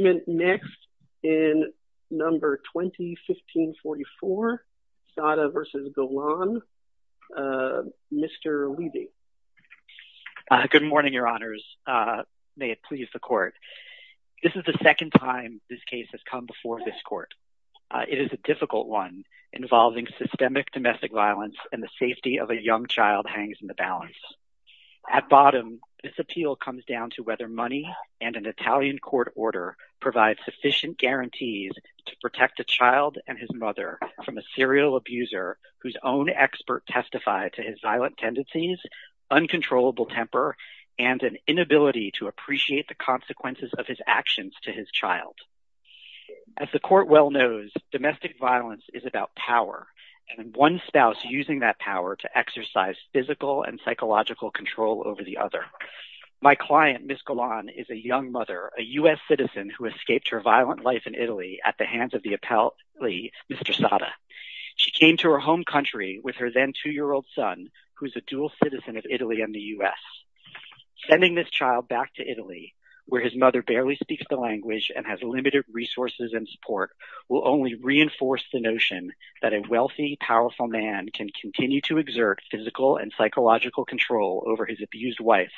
Good morning, Your Honors. May it please the Court. This is the second time this case has come before this Court. It is a difficult one, involving systemic domestic violence and the safety of a young child hangs in the balance. At bottom, this appeal comes down to whether money and an Italian court order provide sufficient guarantees to protect a child and his mother from a serial abuser whose own expert testified to his violent tendencies, uncontrollable temper, and an inability to appreciate the consequences of his actions to his child. As the Court well knows, domestic violence is about power, and one spouse using that power to exercise physical and psychological control over the other. My client, Ms. Golan, is a young mother, a U.S. citizen who escaped her violent life in Italy at the hands of the appellee, Mr. Saada. She came to her home country with her then two-year-old son, who is a dual citizen of Italy and the U.S. Sending this child back to Italy, where his mother barely speaks the language and has limited resources and support, will only reinforce the notion that a wealthy, powerful man can continue to exert physical and psychological control over his abused wife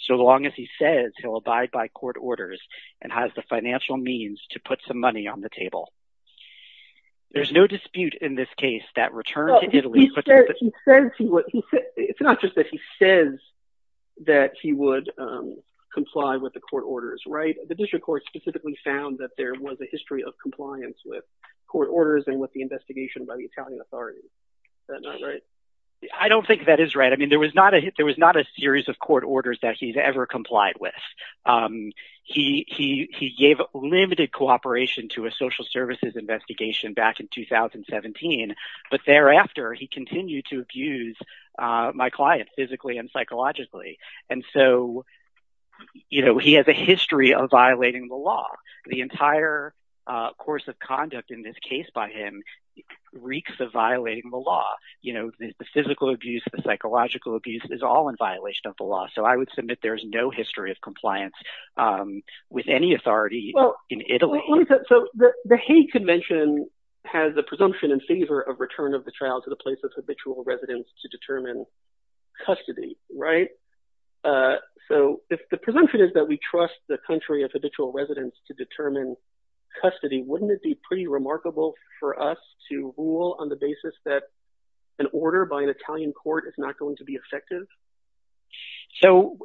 so long as he says he'll abide by court orders and has the financial means to put some money on the table. There's no dispute in this case that return to Italy... It's not just that he says that he would comply with the court orders, right? The District Court specifically found that there was a history of compliance with court orders and with the investigation by the Italian authorities. Is that not right? I don't think that is right. I mean, there was not a series of court orders that he's ever complied with. He gave limited cooperation to a social services investigation back in 2017, but thereafter, he continued to abuse my client physically and psychologically. And so, you know, he has a history of violating the law. The entire course of conduct in this case by him reeks of violating the law. You know, the physical abuse, the psychological abuse is all in violation of the law. So I would submit there's no history of compliance with any authority in Italy. So the Hague Convention has the presumption in favor of return of the child to the place of habitual residence to determine custody, right? So if the presumption is that we trust the country of habitual residence to determine custody, wouldn't it be pretty remarkable for us to rule on the basis that an order by an Italian court is not going to be effective? So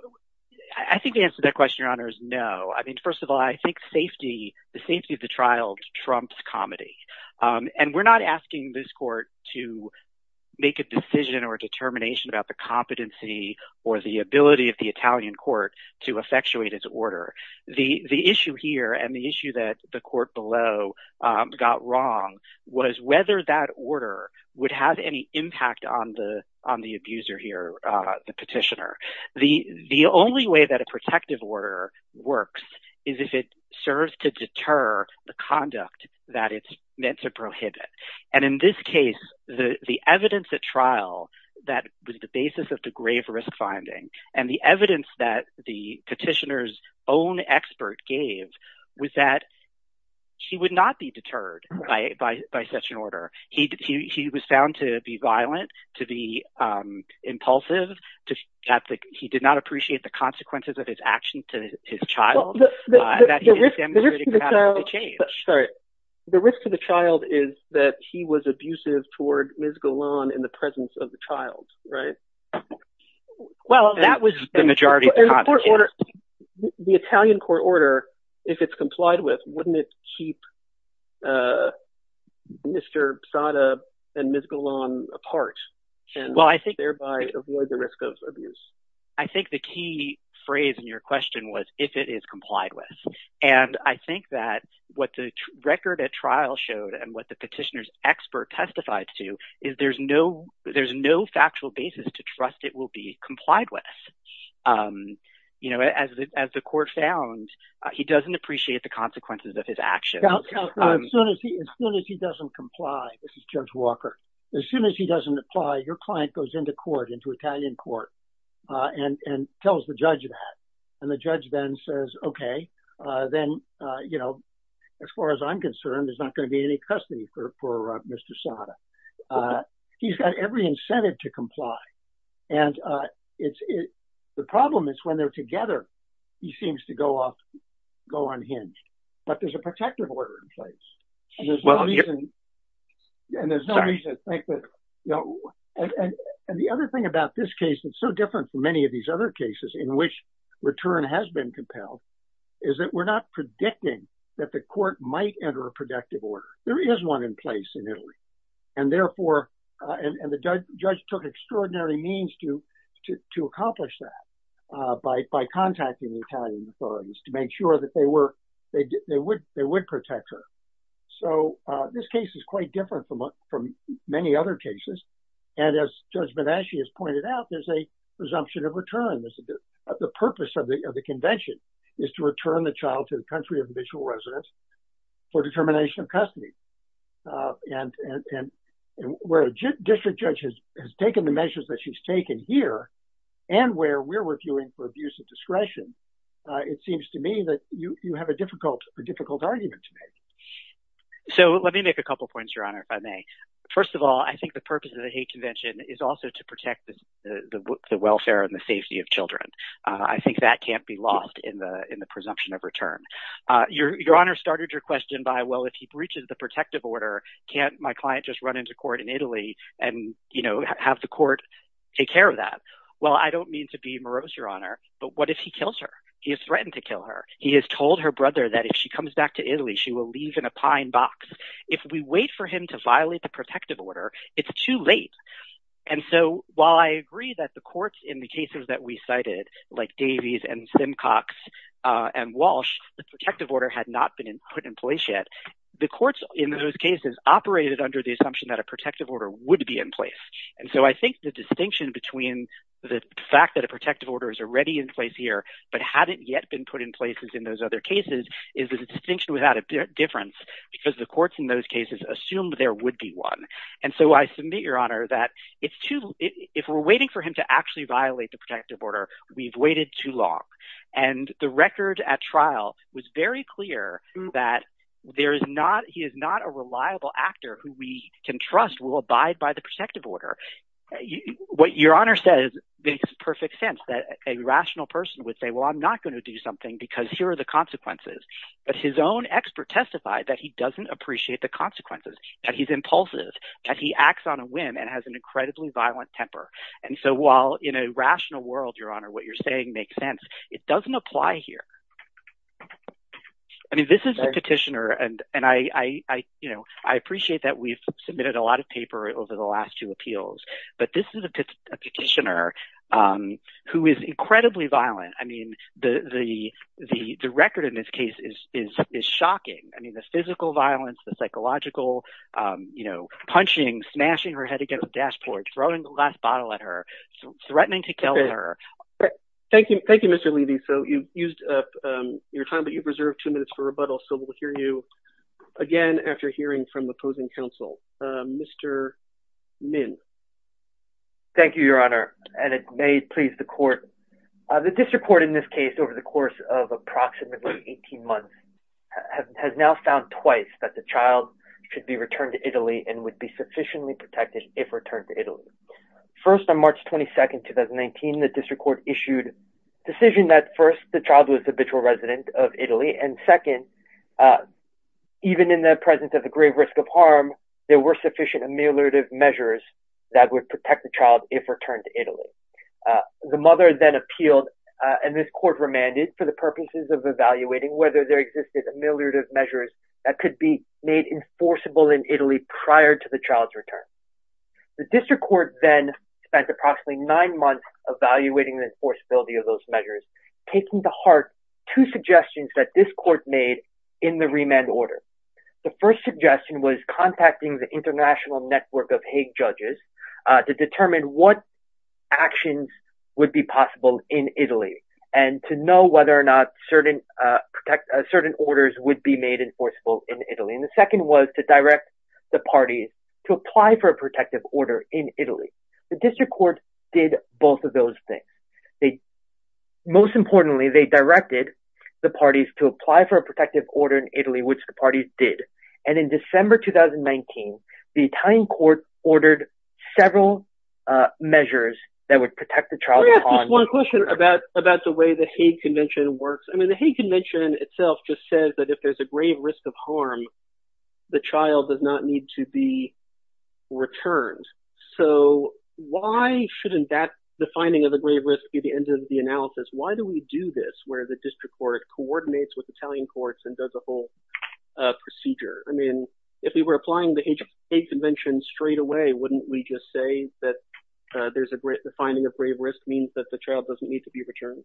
I think the answer to that question, Your Honor, is no. I mean, first of all, I think safety, the safety of the child trumps comedy. And we're not asking this court to make a decision or a determination about the competency or the ability of the Italian court to effectuate its order. The issue here and the issue that the court below got wrong was whether that order would have any impact on the abuser here, the petitioner. The only way that a protective order works is if it serves to deter the conduct that it's meant to prohibit. And in this case, the evidence at trial that was the basis of the grave risk finding and the evidence that the was found to be violent, to be impulsive. He did not appreciate the consequences of his action to his child. The risk to the child is that he was abusive toward Ms. Golan in the presence of the child, right? Well, that was the majority of the court order. The Italian court order, if it's Ms. Golan apart, can thereby avoid the risk of abuse. I think the key phrase in your question was if it is complied with. And I think that what the record at trial showed and what the petitioner's expert testified to is there's no factual basis to trust it will be complied with. You know, as the court found, he doesn't appreciate the consequences of his action. As soon as he doesn't comply, this is Judge Walker. As soon as he doesn't apply, your client goes into court, into Italian court and tells the judge that. And the judge then says, OK, then, you know, as far as I'm concerned, there's not going to be any custody for Mr. Sada. He's got every incentive to comply. And the problem is when they're together, he seems to go off, go unhinged. But there's a protective order in place. And there's no reason to think that. And the other thing about this case that's so different from many of these other cases in which return has been compelled is that we're not predicting that the court might enter a protective order. There is one in place in Italy. And therefore and the judge took extraordinary means to to accomplish that by contacting the Italian authorities to make sure that they were they would they would protect her. So this case is quite different from many other cases. And as Judge Benesci has pointed out, there's a presumption of return. The purpose of the convention is to return the child to the country of initial residence for determination of custody. And where a district judge has taken the measures that she's taken here and where we're reviewing for abuse of discretion, it seems to me that you have a difficult, a difficult argument to make. So let me make a couple of points, Your Honor, if I may. First of all, I think the purpose of the hate convention is also to protect the welfare and the safety of children. I think that can't be lost in the in the presumption of return. Your Honor started your question by, well, if he breaches the protective order, can't my client just run into court in Italy and, you know, have the court take care of that? Well, I don't mean to be morose, Your Honor, but what if he kills her? He has threatened to kill her. He has told her brother that if she comes back to Italy, she will leave in a pine box. If we wait for him to violate the protective order, it's too late. And so while I agree that the courts in the cases that we cited, like Davies and Simcox and Walsh, the protective order had not been put in place yet. The courts in those cases operated under the assumption that a protective order would be in place. And so I think the distinction between the fact that a protective order is already in place here but hadn't yet been put in places in those other cases is a distinction without a difference, because the courts in those cases assumed there would be one. And so I submit, Your Honor, that if we're waiting for him to actually violate the protective order, we've waited too long. And the record at trial was very clear that he is not a reliable actor who we can trust will abide by the protective order. What Your Honor says makes perfect sense, that a rational person would say, well, I'm not going to do something because here are the consequences. But his own expert testified that he doesn't appreciate the consequences, that he's impulsive, that he acts on a whim and has an incredibly violent temper. And so while in a rational world, Your Honor, what you're saying makes sense, it doesn't apply here. I mean, this is a petitioner, and I appreciate that we've submitted a lot of paper over the last two appeals, but this is a petitioner who is incredibly violent. I mean, the record in this case is shocking. I mean, the physical violence, the psychological, you know, punching, smashing her head against the dashboard, throwing the last bottle at her, threatening to kill her. Thank you. Thank you, Mr. Levy. So you've used up your time, but you've reserved two minutes for rebuttal. So we'll hear you again after hearing from opposing counsel. Mr. Mintz. Thank you, Your Honor. And it may please the court. The district court in this case, over the course of approximately 18 months, has now found twice that the child should be returned to Italy and would be sufficiently protected if returned to Italy. First, on March 22nd, 2019, the district court issued a decision that first, the child was the habitual resident of Italy, and second, even in the presence of a grave risk of harm, there were sufficient ameliorative measures that would protect the child if returned to Italy. The mother then appealed, and this court remanded for the purposes of evaluating whether there existed ameliorative measures that could be made enforceable in Italy prior to the child's return. The district court then spent approximately nine months evaluating the enforceability of those measures, taking to heart two suggestions that this court made in the remand order. The first suggestion was contacting the international network of Hague judges to determine what actions would be possible in Italy and to know whether or not certain orders would be made enforceable in Italy. And the second was to direct the parties to apply for a protective order in Italy. The district court did both of those things. Most importantly, they directed the parties to apply for a protective order in Italy, which the parties did. And in December 2019, the Italian court ordered several measures that would protect the child. Let me ask you one question about the way the Hague Convention works. I mean, the Hague Convention itself just says that if there's a grave risk of harm, the child does not need to be returned. So why shouldn't that, the finding of the grave risk, be the end of the analysis? Why do we do this where the district court coordinates with Italian courts and does a whole procedure? I mean, if we were applying the Hague Convention straight away, wouldn't we just say that there's a finding of grave risk means that the child doesn't need to be returned?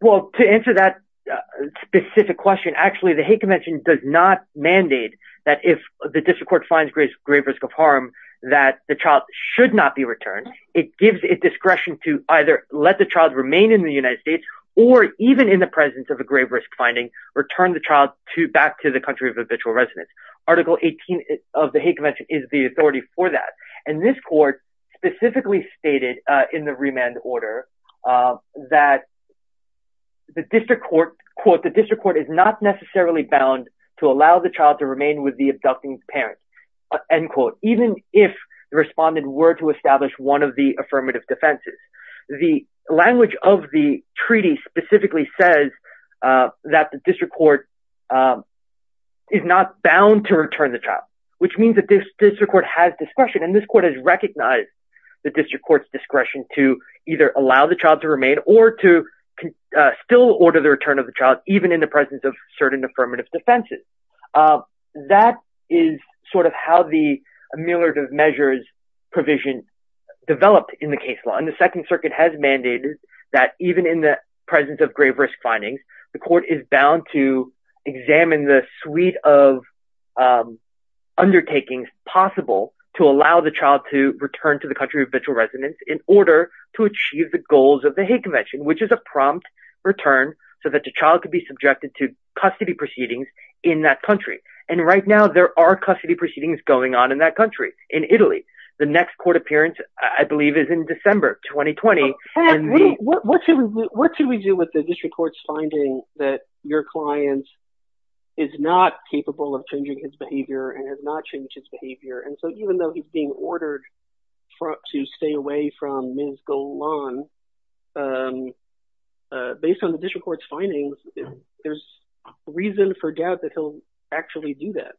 Well, to answer that specific question, actually, the Hague Convention does not mandate that if the district court finds grave risk of harm, that the child should not be returned. It gives it discretion to either let the child remain in the United States or even in the presence of a grave risk finding, return the child to back to the country of habitual residence. Article 18 of the Hague Convention is the authority for that. And this court specifically stated in the remand order that the district court, quote, the district court is not necessarily bound to allow the child to remain with the abducting parents, end quote, even if the respondent were to establish one of the affirmative defenses. The language of the treaty specifically says that the district court is not bound to return the child, which means that this district court has discretion. And this court has recognized the district court's discretion to either allow the child to remain or to still order the return of the child, even in the presence of certain measures provision developed in the case law. And the Second Circuit has mandated that even in the presence of grave risk findings, the court is bound to examine the suite of undertakings possible to allow the child to return to the country of habitual residence in order to achieve the goals of the Hague Convention, which is a prompt return so that the child could be subjected to custody proceedings in that country. And right now there are custody proceedings going on in that country, in Italy. The next court appearance, I believe, is in December 2020. What should we do with the district court's finding that your client is not capable of changing his behavior and has not changed his behavior? And so even though he's being ordered to stay away from Ms. Golan, based on the district court's findings, there's reason for doubt that he'll actually do that.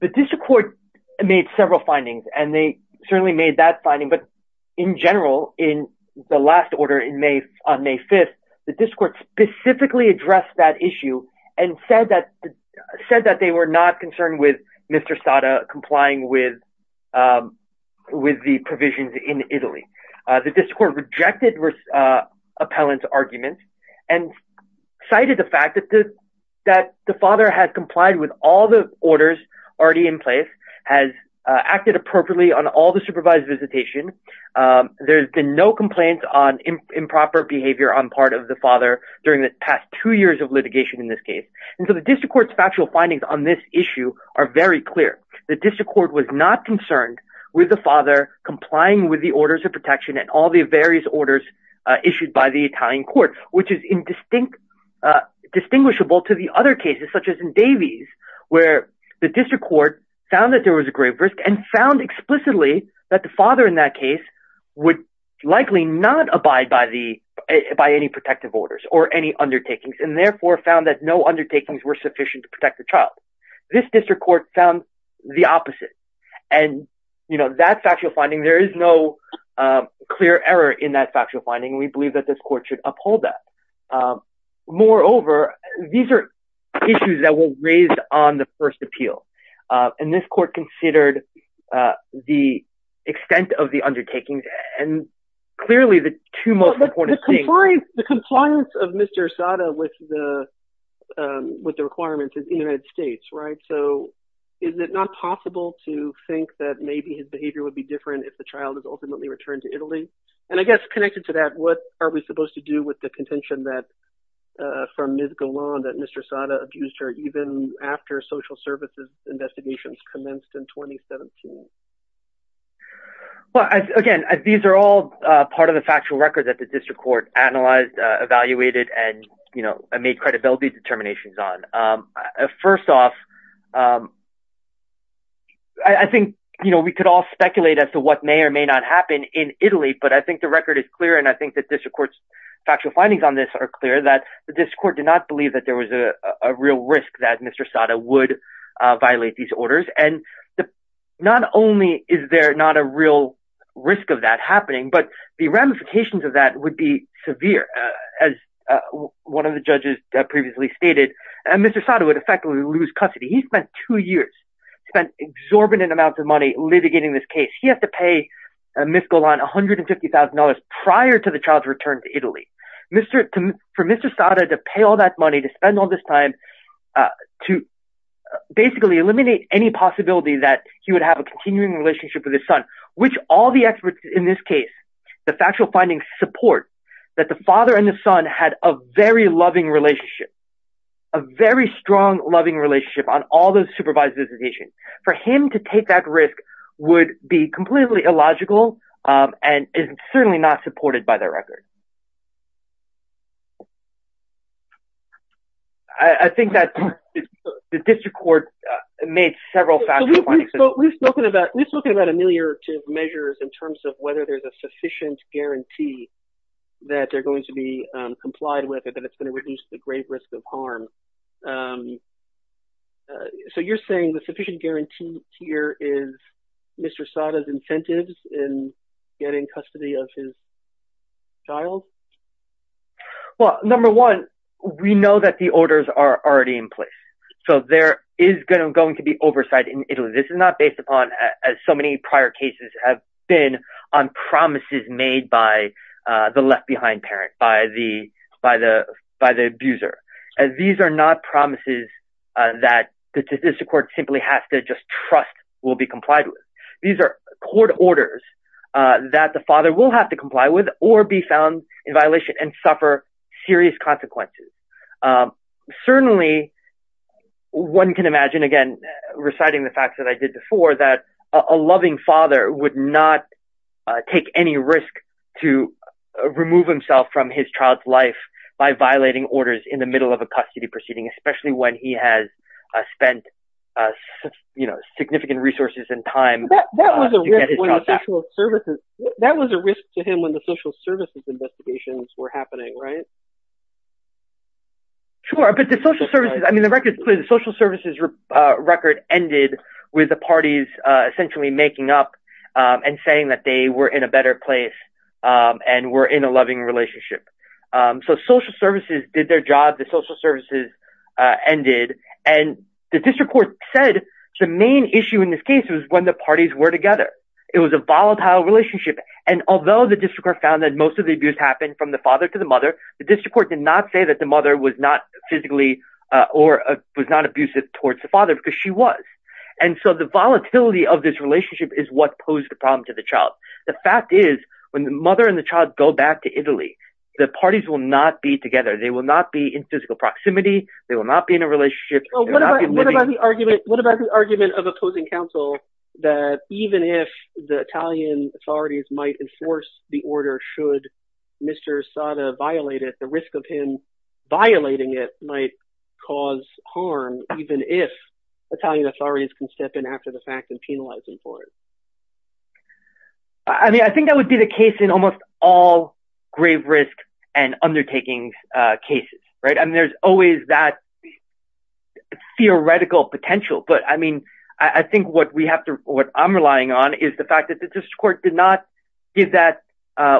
The district court made several findings, and they certainly made that finding. But in general, in the last order on May 5th, the district court specifically addressed that issue and said that they were not concerned with Mr. Sada complying with the provisions in Italy. The district court rejected appellant's arguments and cited the fact that the father had complied with all the orders already in place, has acted appropriately on all the supervised visitation. There's been no complaints on improper behavior on part of the father during the past two years of litigation in this case. And so the district court's factual findings on this issue are very clear. The district court was not concerned with the father complying with the orders of protection and all the various orders issued by the Italian court, which is distinguishable to the other cases, such as in Davies, where the district court found that there was a grave risk and found explicitly that the father in that case would likely not abide by any protective orders or any undertakings, and therefore found that no undertakings were sufficient to protect the child. This district court found the opposite. And, you know, that factual finding, there is no clear error in that factual finding. We believe that this court should uphold that. Moreover, these are issues that were raised on the first appeal. And this court considered the extent of the undertakings and clearly the two most important things. The compliance of Mr. Assata with the requirements is in the United States, right? So is it not possible to think that maybe his behavior would be different if the child is ultimately returned to Italy? And I guess connected to that, what are we supposed to do with the contention from Ms. Galan that Mr. Assata abused her even after social services investigations commenced in 2017? Well, again, these are all part of the record that the district court analyzed, evaluated, and, you know, made credibility determinations on. First off, I think, you know, we could all speculate as to what may or may not happen in Italy, but I think the record is clear, and I think that district court's factual findings on this are clear, that the district court did not believe that there was a real risk that Mr. Assata would violate these orders. And not only is there not a real risk of that happening, but the ramifications of that would be severe. As one of the judges previously stated, Mr. Assata would effectively lose custody. He spent two years, spent exorbitant amounts of money litigating this case. He has to pay Ms. Galan $150,000 prior to the child's return to Italy. For Mr. Assata to pay all that money, to spend all this time, to basically eliminate any possibility that he would have a continuing relationship with his son, which all experts in this case, the factual findings support, that the father and the son had a very loving relationship, a very strong loving relationship on all those supervised visitations. For him to take that risk would be completely illogical and is certainly not supported by the record. I think that the district court made several factual findings. We've spoken about ameliorative measures in terms of whether there's a sufficient guarantee that they're going to be complied with and that it's going to reduce the grave risk of harm. So you're saying the sufficient guarantee here is Mr. Assata's incentives in getting custody of his child? Well, number one, we know that the orders are already in place. So there is going to be oversight in Italy. This is not based upon, as so many prior cases have been, on promises made by the left behind parent, by the abuser. These are not promises that the district court simply has to just trust will be complied with. These are court orders that the father will have to comply with or be found in violation and suffer serious consequences. Certainly, one can imagine, again, reciting the facts that I did before, that a loving father would not take any risk to remove himself from his child's life by violating orders in the middle of a custody proceeding, especially when he has spent significant resources and time. That was a risk to him when the social services investigations were happening, right? Sure. But the social services, I mean, the record is clear. The social services record ended with the parties essentially making up and saying that they were in a better place and were in a loving relationship. So social services did their job. The social services ended. And the district court said the main issue in this case was when the parties were together. It was a volatile relationship. And although the district court found that most of the abuse happened from the father to the mother, the district court did not say that the mother was not physically or was not abusive towards the father because she was. And so the volatility of this relationship is what posed the problem to the child. The fact is, when the mother and the child go back to Italy, the parties will not be together. They will not be in physical proximity. They will not be in a relationship. What about the argument of opposing counsel that even if the Italian authorities might enforce the order should Mr. Sada violate it, the risk of him violating it might cause harm even if Italian authorities can step in after the fact and penalize him for it? I mean, I think that would be the case in almost all grave risk and undertaking cases, right? I mean, there's always that theoretical potential. But I mean, I think what I'm relying on is the fact that the district court did not give that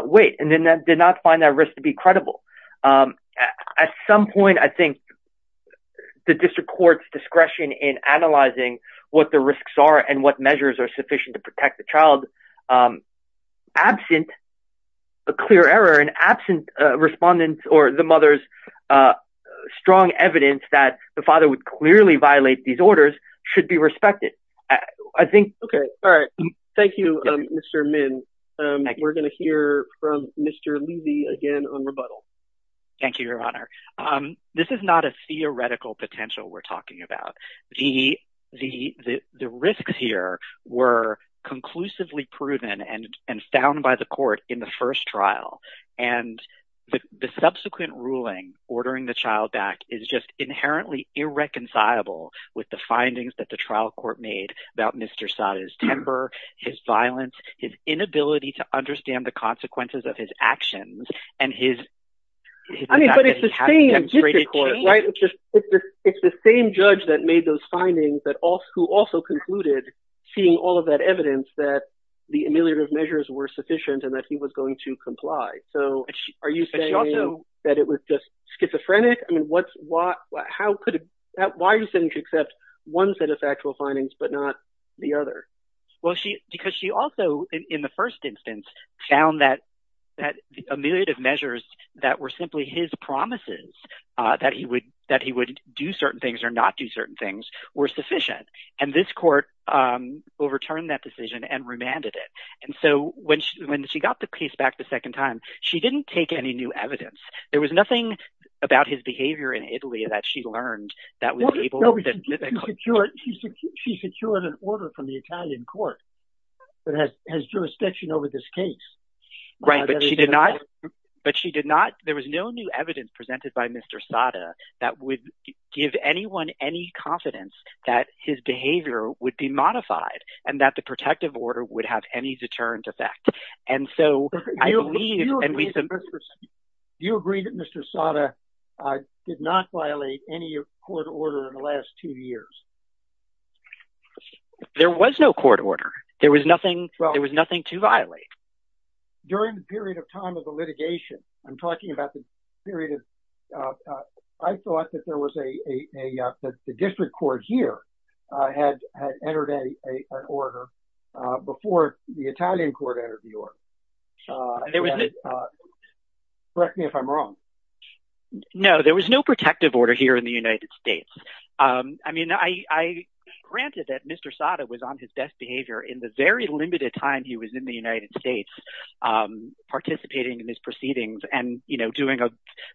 weight and then did not find that risk to be credible. At some point, I think the district court's discretion in analyzing what the risks are and what measures are sufficient to protect the child, absent a clear error and absent respondents or the mother's strong evidence that the father would clearly violate these orders, should be respected. I think... Okay. All right. Thank you, Mr. Min. We're going to hear from Mr. Levy again on rebuttal. Thank you, Your Honor. This is not a theoretical potential we're talking about. The risks here were conclusively proven and found by the court in the first trial. And the subsequent ruling ordering the child back is just inherently irreconcilable with the findings that the trial court made about Mr. Sata's temper, his violence, his inability to understand the consequences of his actions, and his... I mean, but it's the same district court, right? It's the same judge that made those findings who also concluded, seeing all of that evidence, that the ameliorative measures were sufficient and that he was going to comply. So are you saying that it was just schizophrenic? I mean, why are you saying you could accept one set of factual findings, but not the other? Well, because she also, in the first instance, found that the ameliorative measures that were simply his promises that he would do certain things or not do certain things were sufficient. And this court overturned that decision and And so when she got the case back the second time, she didn't take any new evidence. There was nothing about his behavior in Italy that she learned that was able... She secured an order from the Italian court that has jurisdiction over this case. Right, but she did not. But she did not. There was no new evidence presented by Mr. Sata that would give anyone any confidence that his behavior would be modified, and that the protective order would have any deterrent effect. And so I believe... You agree that Mr. Sata did not violate any court order in the last two years? There was no court order. There was nothing to violate. During the period of time of the litigation, I'm talking about the period of... I thought that the district court here had entered an order before the Italian court entered the order. Correct me if I'm wrong. No, there was no protective order here in the United States. I mean, granted that Mr. Sata was on his best behavior in the very limited time he was in the United States, participating in his proceedings and, you know, doing a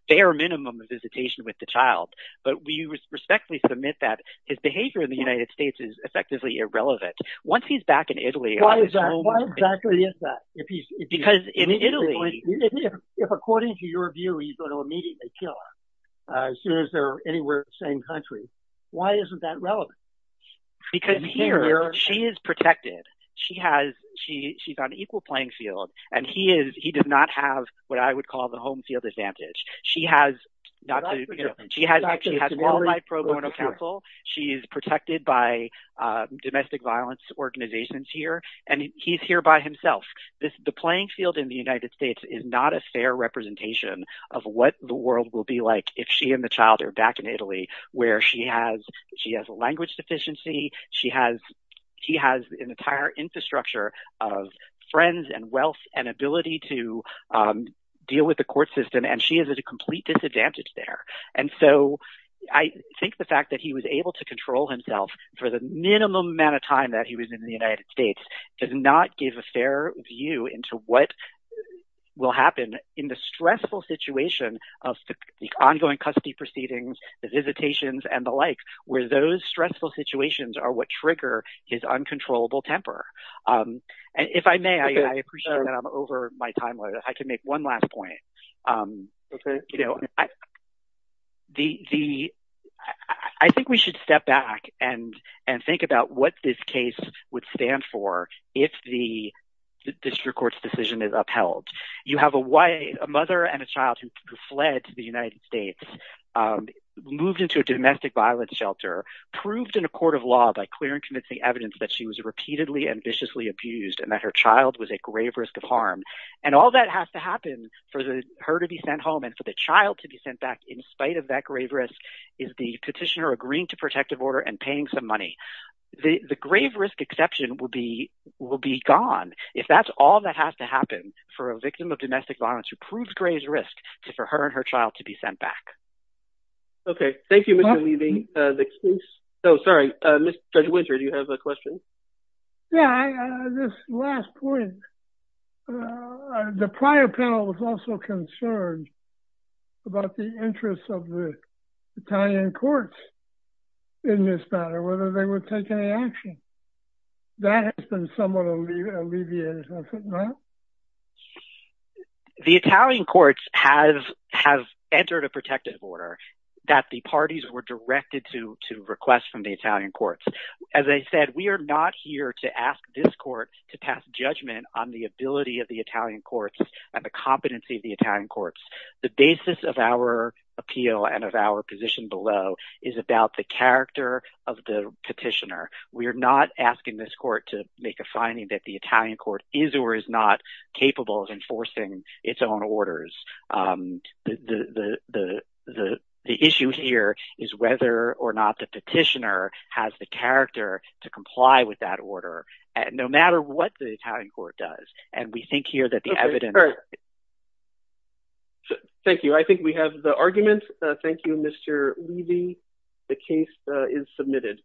bare minimum of visitation with the child, but we respectfully submit that his behavior in the United States is effectively irrelevant. Once he's back in Italy... Why exactly is that? Because in Italy... If according to your view, he's going to immediately kill her as soon as they're anywhere in the same country, why isn't that relevant? Because here, she is protected. She has... She's on equal playing field, and he does not have what I would call the home field advantage. She has... She has all my pro bono counsel. She is protected by domestic violence organizations here, and he's here by himself. The playing field in the United States is not a fair representation of what the world will be like if she and the child are back in Italy, where she has language deficiency. She has... He has an entire infrastructure of friends and wealth and ability to deal with the court system, and she is at a complete disadvantage there, and so I think the fact that he was able to control himself for the minimum amount of time that he was in the United States does not give a fair view into what will happen in the stressful situation of the ongoing custody proceedings, the visitations, and the like, where those stressful situations are what trigger his uncontrollable temper. If I may, I appreciate that I'm over my time limit. I can make one last point. I think we should step back and think about what this case would stand for if the district court's decision is upheld. You have a mother and a child who fled to the United States, moved into a domestic violence shelter, proved in a court of law by clear and convincing evidence that she was repeatedly and viciously abused and that her child was at grave risk of harm, and all that has to happen for her to be sent home and for the child to be sent back in spite of that grave risk is the petitioner agreeing to protective order and paying some money. The grave risk exception will be gone if that's all that has to happen for a victim of domestic violence. Thank you, Mr. Levy. Sorry, Judge Winter, do you have a question? Yeah, this last point. The prior panel was also concerned about the interest of the Italian courts in this matter, whether they would take any action. That has been somewhat alleviated, has it not? No. The Italian courts have entered a protective order that the parties were directed to request from the Italian courts. As I said, we are not here to ask this court to pass judgment on the ability of the Italian courts and the competency of the Italian courts. The basis of our appeal and of our position below is about the character of the petitioner. We are not asking this court to find that the Italian court is or is not capable of enforcing its own orders. The issue here is whether or not the petitioner has the character to comply with that order, no matter what the Italian court does. And we think here that the evidence... Thank you. I think we have the argument. Thank you, Mr. Levy. The case is submitted. Thank you.